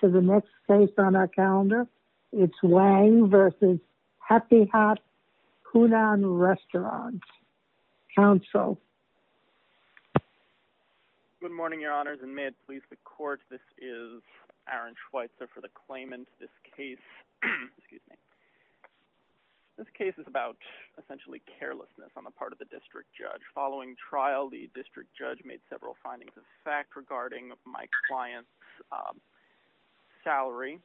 to the next case on our calendar. It's Wang versus Happy Hot Hunan Restaurant, counsel. Good morning, your honors, and may it please the court, this is Aaron Schweitzer for the claimant. This case, excuse me, this case is about essentially carelessness on the part of the district judge. Following trial, the district judge made several findings of fact regarding my client's salary.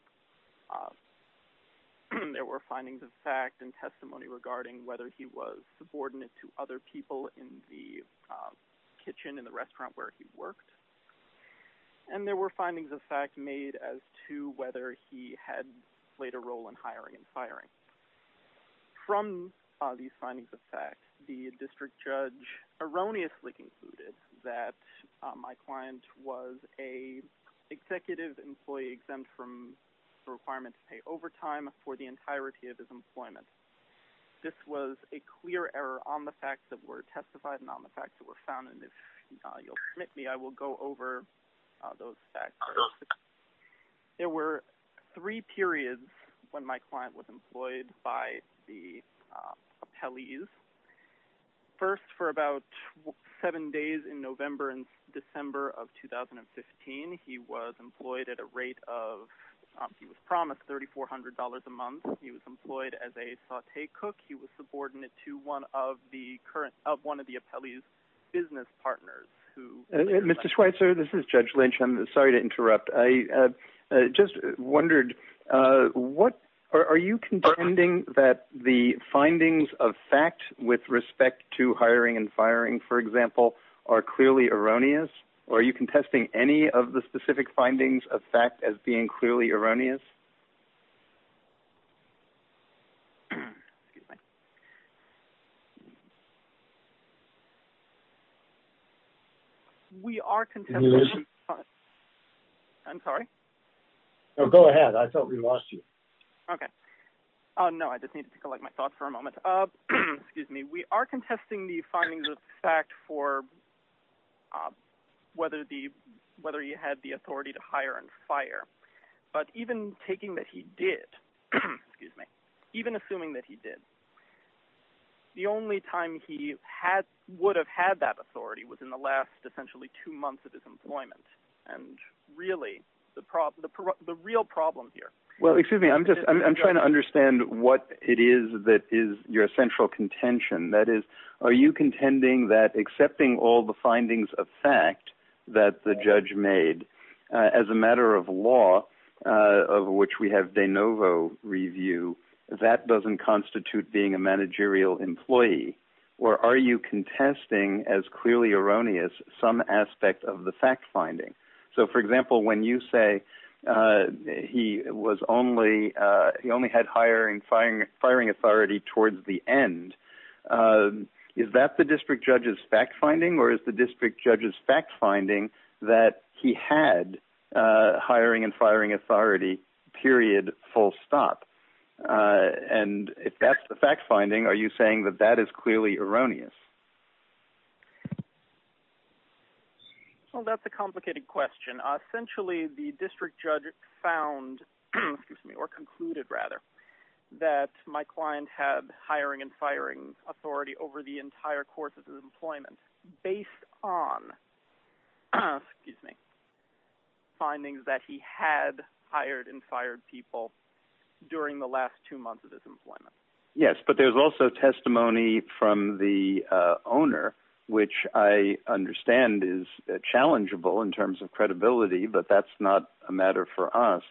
There were findings of fact and testimony regarding whether he was subordinate to other people in the kitchen in the restaurant where he worked. And there were findings of fact made as to whether he had played a role in hiring and firing. From these findings of fact, the district judge erroneously concluded that my client was a executive employee exempt from the requirement to pay overtime for the entirety of his employment. This was a clear error on the facts that were testified and on the facts that were found. And if you'll permit me, I will go over those facts. There were three periods when my client was employed by the appellees. First, for about seven days in November and December of 2015, he was employed at a rate of, he was promised $3,400 a month. He was employed as a saute cook. He was subordinate to one of the current, of one of the appellee's business partners who- Mr. Schweitzer, this is Judge Lynch. I'm sorry to interrupt. I just wondered, what, are you contending that the findings of fact with respect to hiring and firing, for example, are clearly erroneous? Or are you contesting any of the specific findings of fact as being clearly erroneous? We are contesting- Can you listen? I'm sorry? No, go ahead. I thought we lost you. Okay. Oh no, I just needed to collect my thoughts for a moment. Excuse me. We are contesting the findings of fact for whether he had the authority to hire and fire. But even taking that he did, excuse me, even assuming that he did, the only time he would have had that authority was in the last, essentially, two months of his employment. And really, the real problem here- Well, excuse me. I'm just, I'm trying to understand what it is that is your central contention. That is, are you contending that accepting all the findings of fact that the judge made as a matter of law, of which we have de novo review, that doesn't constitute being a managerial employee? Or are you contesting as clearly erroneous some aspect of the fact finding? So for example, when you say he was only, he only had hiring, firing authority towards the end, is that the district judge's fact finding? Or is the district judge's fact finding that he had hiring and firing authority, period, full stop? And if that's the fact finding, are you saying that that is clearly erroneous? Well, that's a complicated question. Essentially, the district judge found, excuse me, or concluded, rather, that my client had hiring and firing authority over the entire course of his employment based on, excuse me, findings that he had hired and fired people during the last two months of his employment. Yes, but there's also testimony from the owner, which I understand is challengeable in terms of credibility, but that's not a matter for us,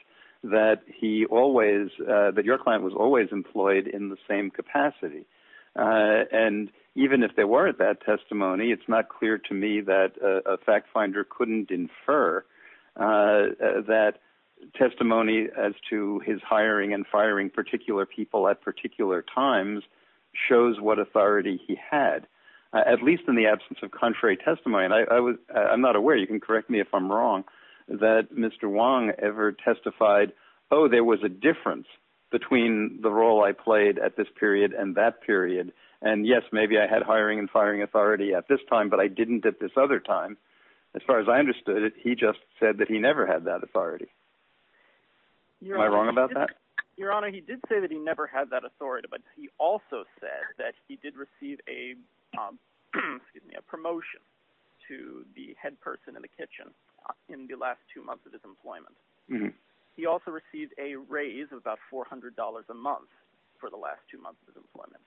that he always, that your client was always employed in the same capacity. And even if there weren't that testimony, it's not clear to me that a fact finder couldn't infer that testimony as to his hiring and firing particular people at particular times shows what authority he had, at least in the absence of contrary testimony. And I'm not aware, you can correct me if I'm wrong, that Mr. Wong ever testified, oh, there was a difference between the role I played at this period and that period. And yes, maybe I had hiring and firing authority at this time, but I didn't at this other time. As far as I understood it, he just said that he never had that authority. Am I wrong about that? Your Honor, he did say that he never had that authority, but he also said that he did receive a, excuse me, a promotion to the head person in the kitchen in the last two months of his employment. He also received a raise of about $400 a month for the last two months of employment.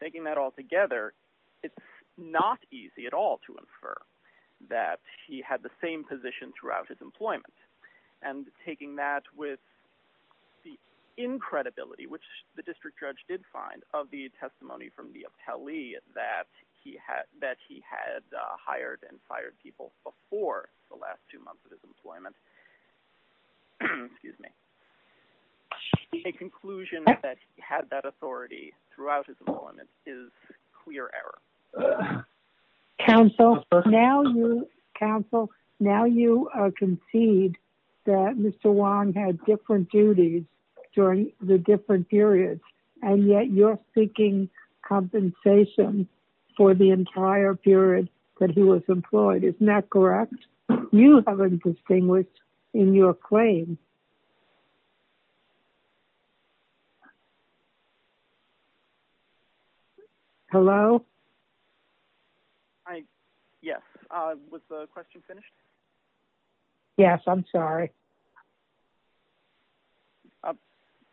Taking that all together, it's not easy at all to infer that he had the same position throughout his employment. And taking that with the incredibility, which the district judge did find of the testimony from the appellee that he had hired and fired people before the last two months of his employment, excuse me, a conclusion that he had that authority throughout his employment is clear error. Counsel, now you concede that Mr. Wong had different duties during the different periods, and yet you're seeking compensation for the entire period that he was employed. Isn't that correct? You haven't distinguished in your claim. Hello? Yes. Was the question finished? Yes, I'm sorry.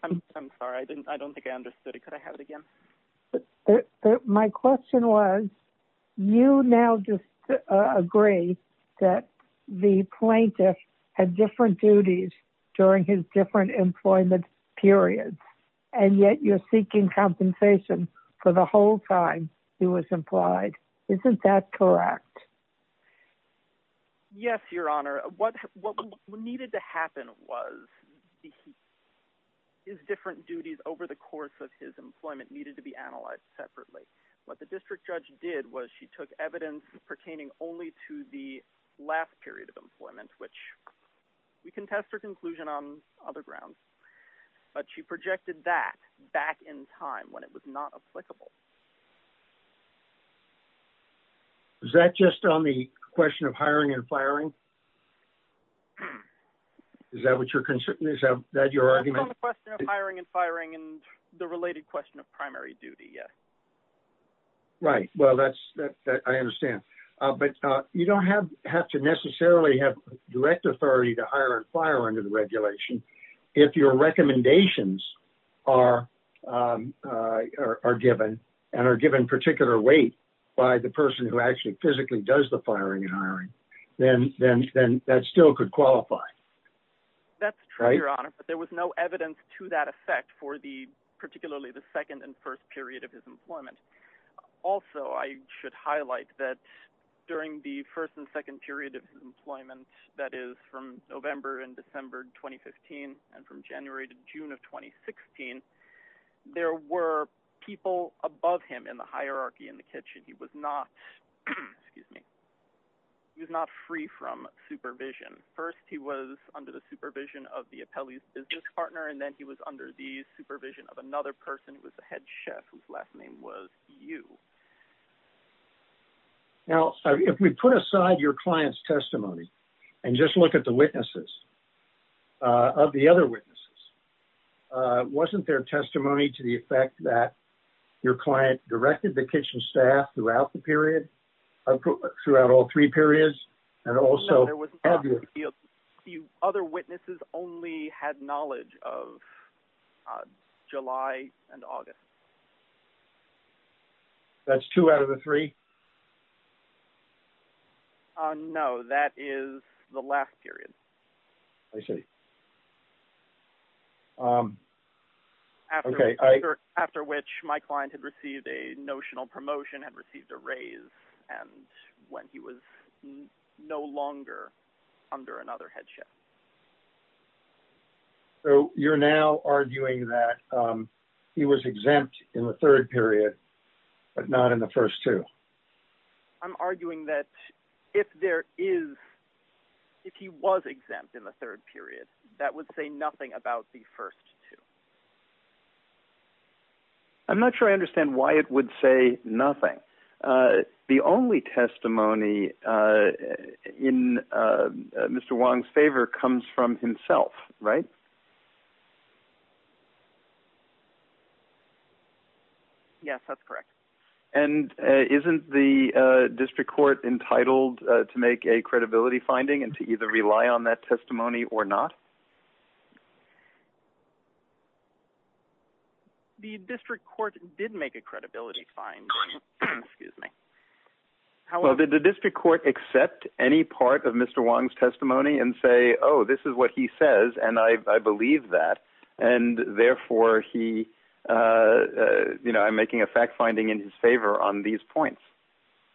I'm sorry. I don't think I understood it. Could I have it again? My question was, you now just agree that the plaintiff had different duties during his different employment periods, and yet you're seeking compensation for the whole time he was employed. Isn't that correct? Yes, Your Honor. What needed to happen was his different duties over the course of his employment needed to be analyzed separately. What the district judge did was she took evidence pertaining only to the last period of employment, which we can test her conclusion on other grounds, but she projected that back in time when it was not applicable. Is that just on the question of hiring and firing? Is that what you're considering? Is that your argument? It's on the question of hiring and firing and the related question of primary duty, yes. Right, well, I understand. But you don't have to necessarily have direct authority to hire and fire under the regulation. If your recommendations are given and are given particular weight by the person who actually physically does the firing and hiring, then that still could qualify. That's true, Your Honor, but there was no evidence to that effect for particularly the second and first period of his employment. Also, I should highlight that during the first and second period of employment, that is from November and December 2015 and from January to June of 2016, there were people above him in the hierarchy in the kitchen. He was not, excuse me, he was not free from supervision. First, he was under the supervision of the appellee's business partner, and then he was under the supervision of another person who was the head chef, whose last name was Yu. Now, if we put aside your client's testimony and just look at the witnesses, of the other witnesses, wasn't there testimony to the effect that your client directed the kitchen staff throughout the period, throughout all three periods? And also- The other witnesses only had knowledge of July and August. That's two out of the three? No, that is the last period. I see. Okay, I- After which my client had received a notional promotion, had received a raise, and when he was no longer under another head chef. So you're now arguing that he was exempt in the third period, but not in the first two? I'm arguing that if there is, if he was exempt in the third period, that would say nothing about the first two. I'm not sure I understand why it would say nothing. The only testimony in Mr. Wong's favor comes from himself, right? Yes, that's correct. And isn't the district court entitled to make a credibility finding and to either rely on that testimony or not? The district court did make a credibility finding, excuse me. Well, did the district court accept any part of Mr. Wong's testimony and say, oh, this is what he says, and I believe that, and therefore he, you know, I'm making a fact finding in his favor on these points.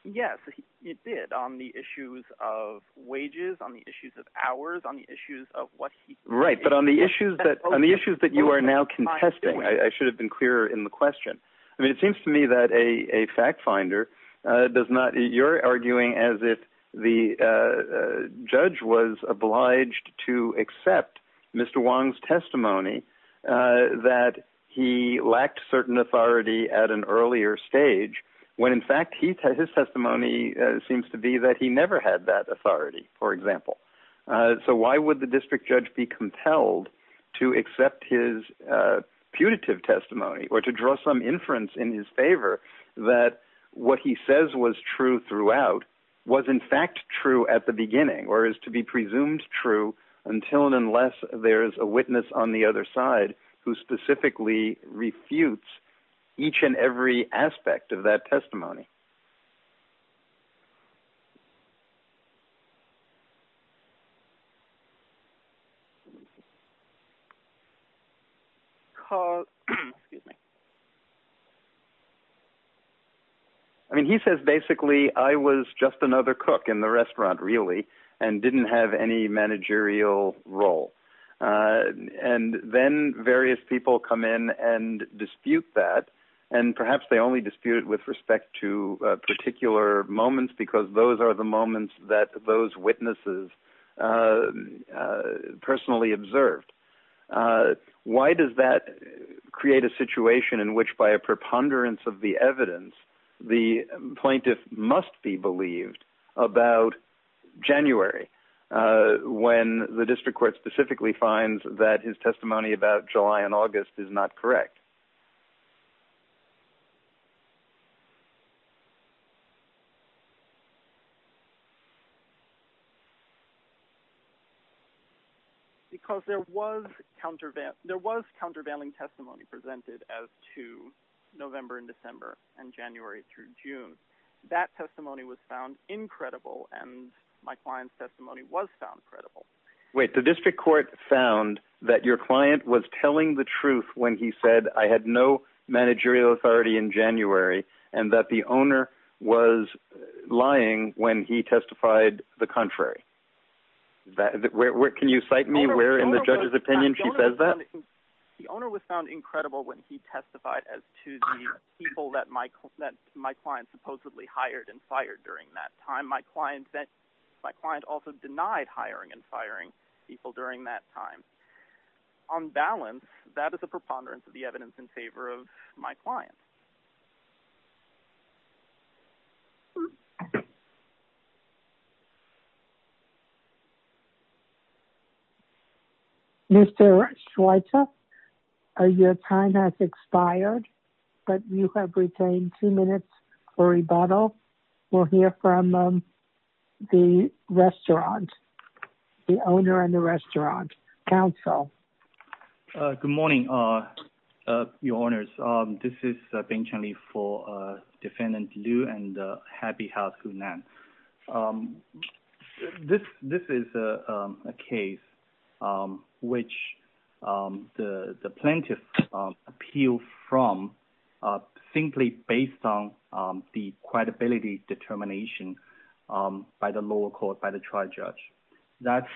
Yes, he did on the issues of wages, on the issues of hours, on the issues of what he- Right, but on the issues that you are now contesting, I should have been clearer in the question. I mean, it seems to me that a fact finder does not, you're arguing as if the judge was obliged to accept Mr. Wong's testimony that he lacked certain authority at an earlier stage, when in fact his testimony seems to be that he never had that authority, for example. So why would the district judge be compelled to accept his putative testimony or to draw some inference in his favor that what he says was true throughout was in fact true at the beginning or is to be presumed true until and unless there's a witness on the other side who specifically refutes each and every aspect of that testimony? Call, excuse me. I mean, he says basically I was just another cook in the restaurant really and didn't have any managerial role. And then various people come in and dispute that I'm not a managerial person. I'm not a managerial person. Because there was countervailing testimony presented as to November and December and January through June. That testimony was found incredible and my client's testimony was found credible. Wait, the district court found that your client was telling the truth when he said I had no managerial authority in January and that the owner was lying when he testified the contrary. Can you cite me where in the judge's opinion she said that? The owner was found incredible when he testified as to the people that my client supposedly hired and fired during that time. My client also denied hiring and firing people during that time. On balance, that is a preponderance of the evidence in favor of my client. Mr. Schweitzer, your time has expired but you have retained two minutes for rebuttal. We'll hear from the restaurant, the owner and the restaurant. Counsel. Good morning, your honors. This is Bing Chen Li for defendant Liu and Happy House Hunan. This is a case which the plaintiff appealed from simply based on the credibility determination by the lower court, by the trial judge. That's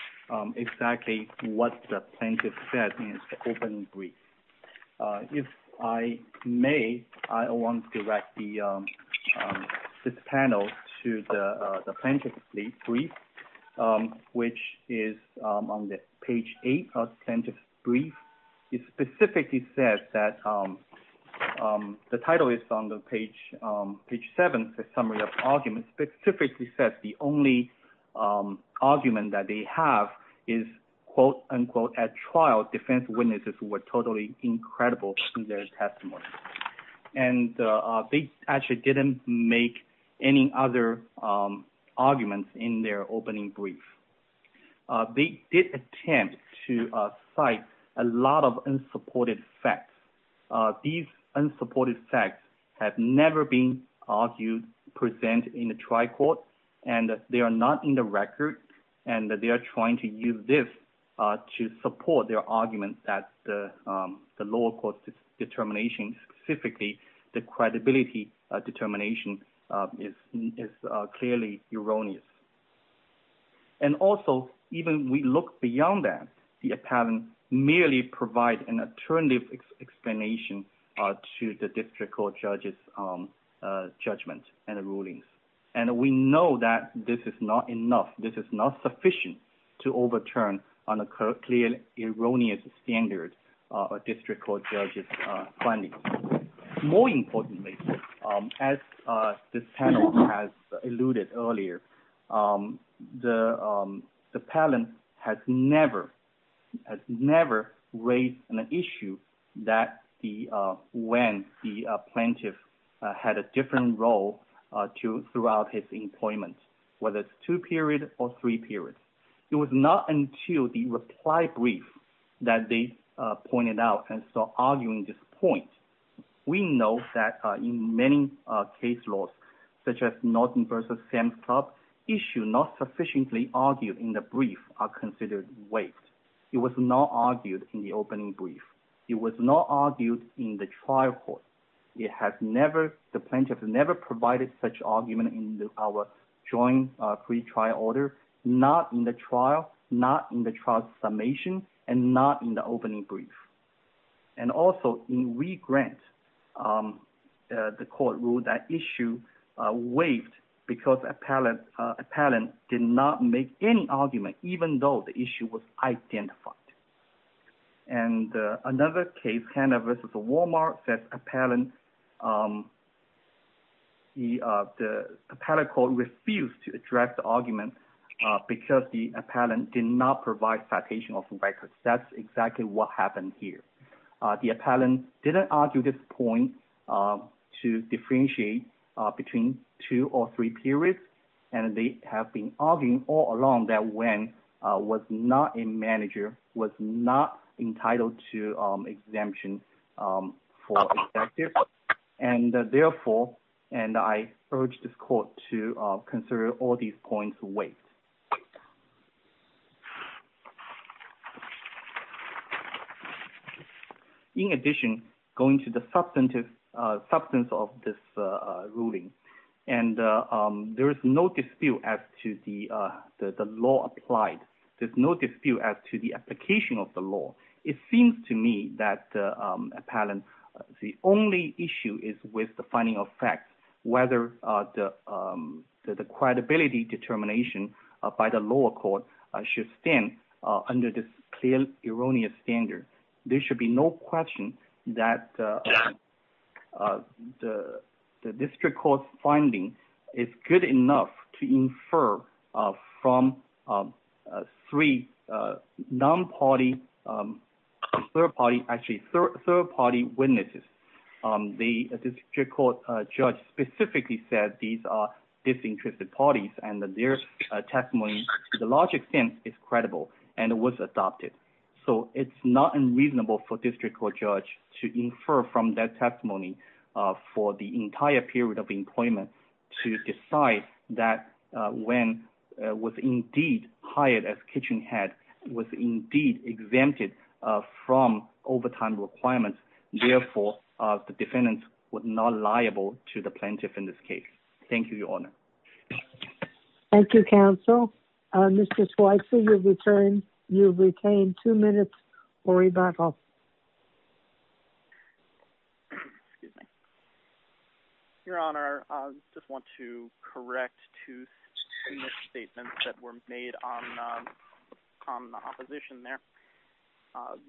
exactly what the plaintiff said in his opening brief. If I may, I want to direct this panel to the plaintiff's brief which is on the page eight of the plaintiff's brief. It specifically says that, the title is on the page seven, the summary of arguments, it specifically says the only argument that they have is quote unquote, at trial defense witnesses were totally incredible in their testimony. And they actually didn't make any other arguments in their opening brief. They did attempt to cite a lot of unsupported facts. These unsupported facts have never been argued, present in the trial court and they are not in the record and they are trying to use this to support their argument that the lower court's determination specifically the credibility determination is clearly erroneous. And also even we look beyond that, the apparent merely provide an alternative explanation to the district court judge's judgment and the rulings. And we know that this is not enough, this is not sufficient to overturn on a clearly erroneous standard of a district court judge's findings. More importantly, as this panel has alluded earlier, the panel has never raised an issue that when the plaintiff had a different role throughout his employment, whether it's two period or three periods. It was not until the reply brief that they pointed out and so arguing this point. We know that in many case laws, such as Norton versus Sam's Club, issue not sufficiently argued in the brief are considered waived. It was not argued in the opening brief. It was not argued in the trial court. It has never, the plaintiff has never provided such argument in our joint pre-trial order, not in the trial, not in the trial summation and not in the opening brief. And also in regrant, the court ruled that issue waived because appellant did not make any argument even though the issue was identified. And another case, Hanna versus Walmart, says appellant, the appellate court refused to address the argument because the appellant did not provide citation of records. That's exactly what happened here. The appellant didn't argue this point to differentiate between two or three periods. And they have been arguing all along that Wen was not a manager, was not entitled to exemption for executive. And therefore, and I urge this court to consider all these points waived. In addition, going to the substance of this ruling, and there is no dispute as to the law applied. There's no dispute as to the application of the law. It seems to me that appellant, the only issue is with the finding of facts, whether the credibility determination by the lower court should stand under this clear erroneous standard. There should be no question that the district court finding is good enough to infer from three non-party, third party, actually third party witnesses. The district court judge specifically said these are disinterested parties and that their testimony to the large extent is credible and it was adopted. So it's not unreasonable for district court judge to infer from that testimony for the entire period of employment to decide that Wen was indeed hired as kitchen head, was indeed exempted from overtime requirements. Therefore, the defendants were not liable to the plaintiff in this case. Thank you, Your Honor. Thank you, counsel. Mr. Schweitzer, you've retained two minutes for rebuttal. Your Honor, I just want to correct two statements that were made on the opposition there.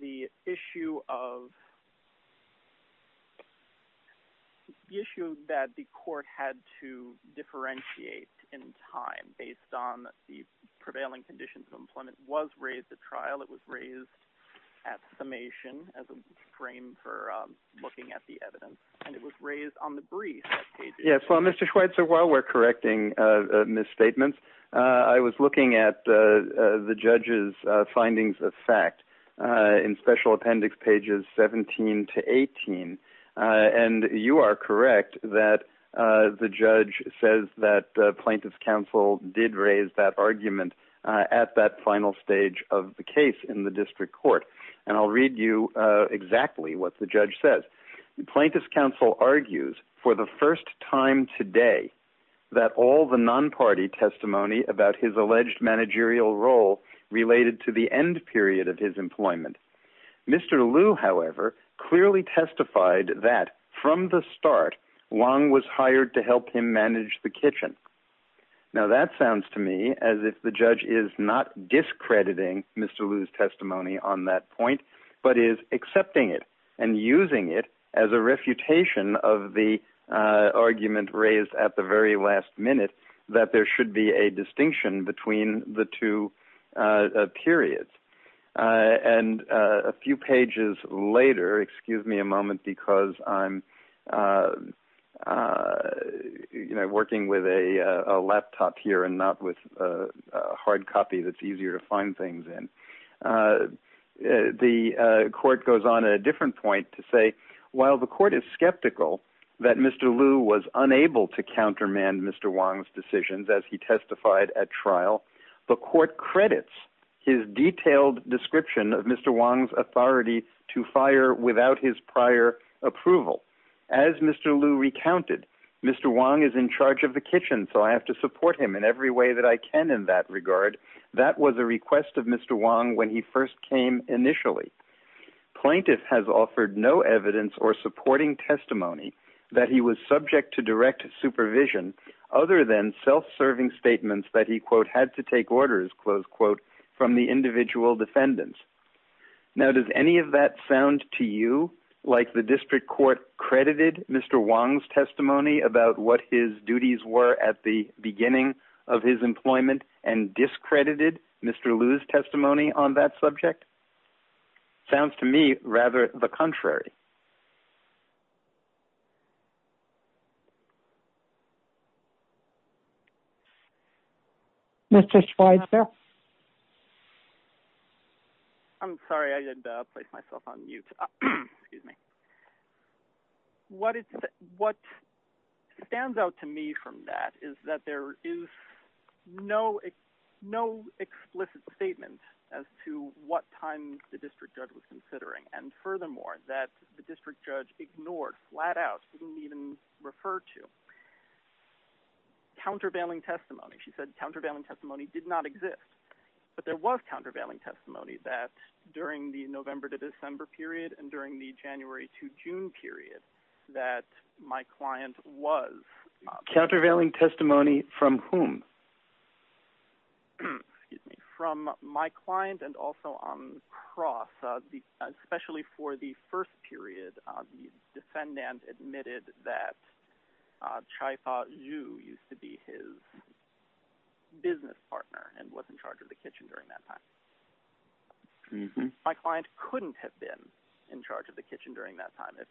The issue that the court had to differentiate in time based on the prevailing conditions of employment was raised at trial. It was raised at summation as a frame for looking at the evidence and it was raised on the brief. Yes, well, Mr. Schweitzer, while we're correcting misstatements, I was looking at the judge's findings of fact in special appendix pages 17 to 18. And you are correct that the judge says that plaintiff's counsel did raise that argument at that final stage of the case in the district court. And I'll read you exactly what the judge says. Plaintiff's counsel argues for the first time today that all the non-party testimony about his alleged managerial role related to the end period of his employment. Mr. Liu, however, clearly testified that from the start, Wang was hired to help him manage the kitchen. Now, that sounds to me as if the judge is not discrediting Mr. Liu's testimony on that point, but is accepting it and using it as a refutation of the argument raised at the very last minute that there should be a distinction between the two periods. And a few pages later, excuse me a moment, because I'm working with a lawyer a laptop here and not with a hard copy that's easier to find things in. The court goes on a different point to say, while the court is skeptical that Mr. Liu was unable to countermand Mr. Wang's decisions as he testified at trial, the court credits his detailed description of Mr. Wang's authority to fire without his prior approval. As Mr. Liu recounted, Mr. Wang is in charge of the kitchen, so I have to support him in every way that I can in that regard. That was a request of Mr. Wang when he first came initially. Plaintiff has offered no evidence or supporting testimony that he was subject to direct supervision other than self-serving statements that he quote, had to take orders, close quote, from the individual defendants. Now, does any of that sound to you like the district court credited Mr. Wang's testimony about what his duties were at the beginning of his employment and discredited Mr. Liu's testimony on that subject? Sounds to me rather the contrary. Mr. Schweitzer. Yeah. I'm sorry, I did place myself on mute, excuse me. What stands out to me from that is that there is no explicit statement as to what time the district judge was considering. And furthermore, that the district judge ignored, flat out, didn't even refer to countervailing testimony. She said, countervailing testimony did not exist, but there was countervailing testimony that during the November to December period and during the January to June period, that my client was- Countervailing testimony from whom? Excuse me, from my client and also on the cross, especially for the first period, the defendant admitted that Chai Fa Zhu used to be his business partner and was in charge of the kitchen during that time. My client couldn't have been in charge of the kitchen during that time if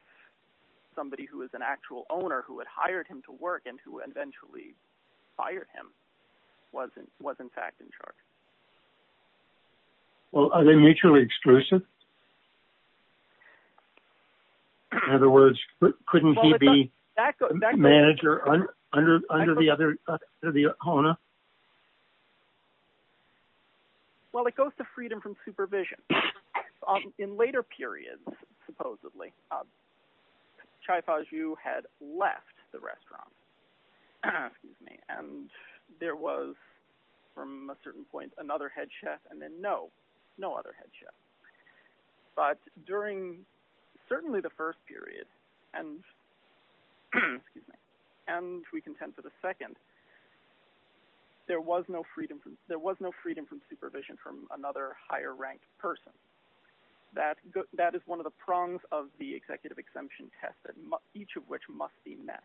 somebody who was an actual owner who had hired him to work and who eventually fired him was in fact in charge. Well, are they mutually exclusive? In other words, couldn't he be manager under the other owner? Well, it goes to freedom from supervision. In later periods, supposedly, Chai Fa Zhu had left the restaurant, excuse me, and there was, from a certain point, another head chef and then no, no other head chef. But during certainly the first period and, excuse me, and we contend for the second, there was no freedom from supervision from another higher ranked person. That is one of the prongs of the executive exemption test each of which must be met.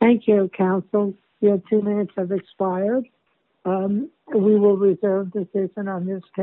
Thank you, counsel. Your two minutes have expired. We will reserve the decision on this case.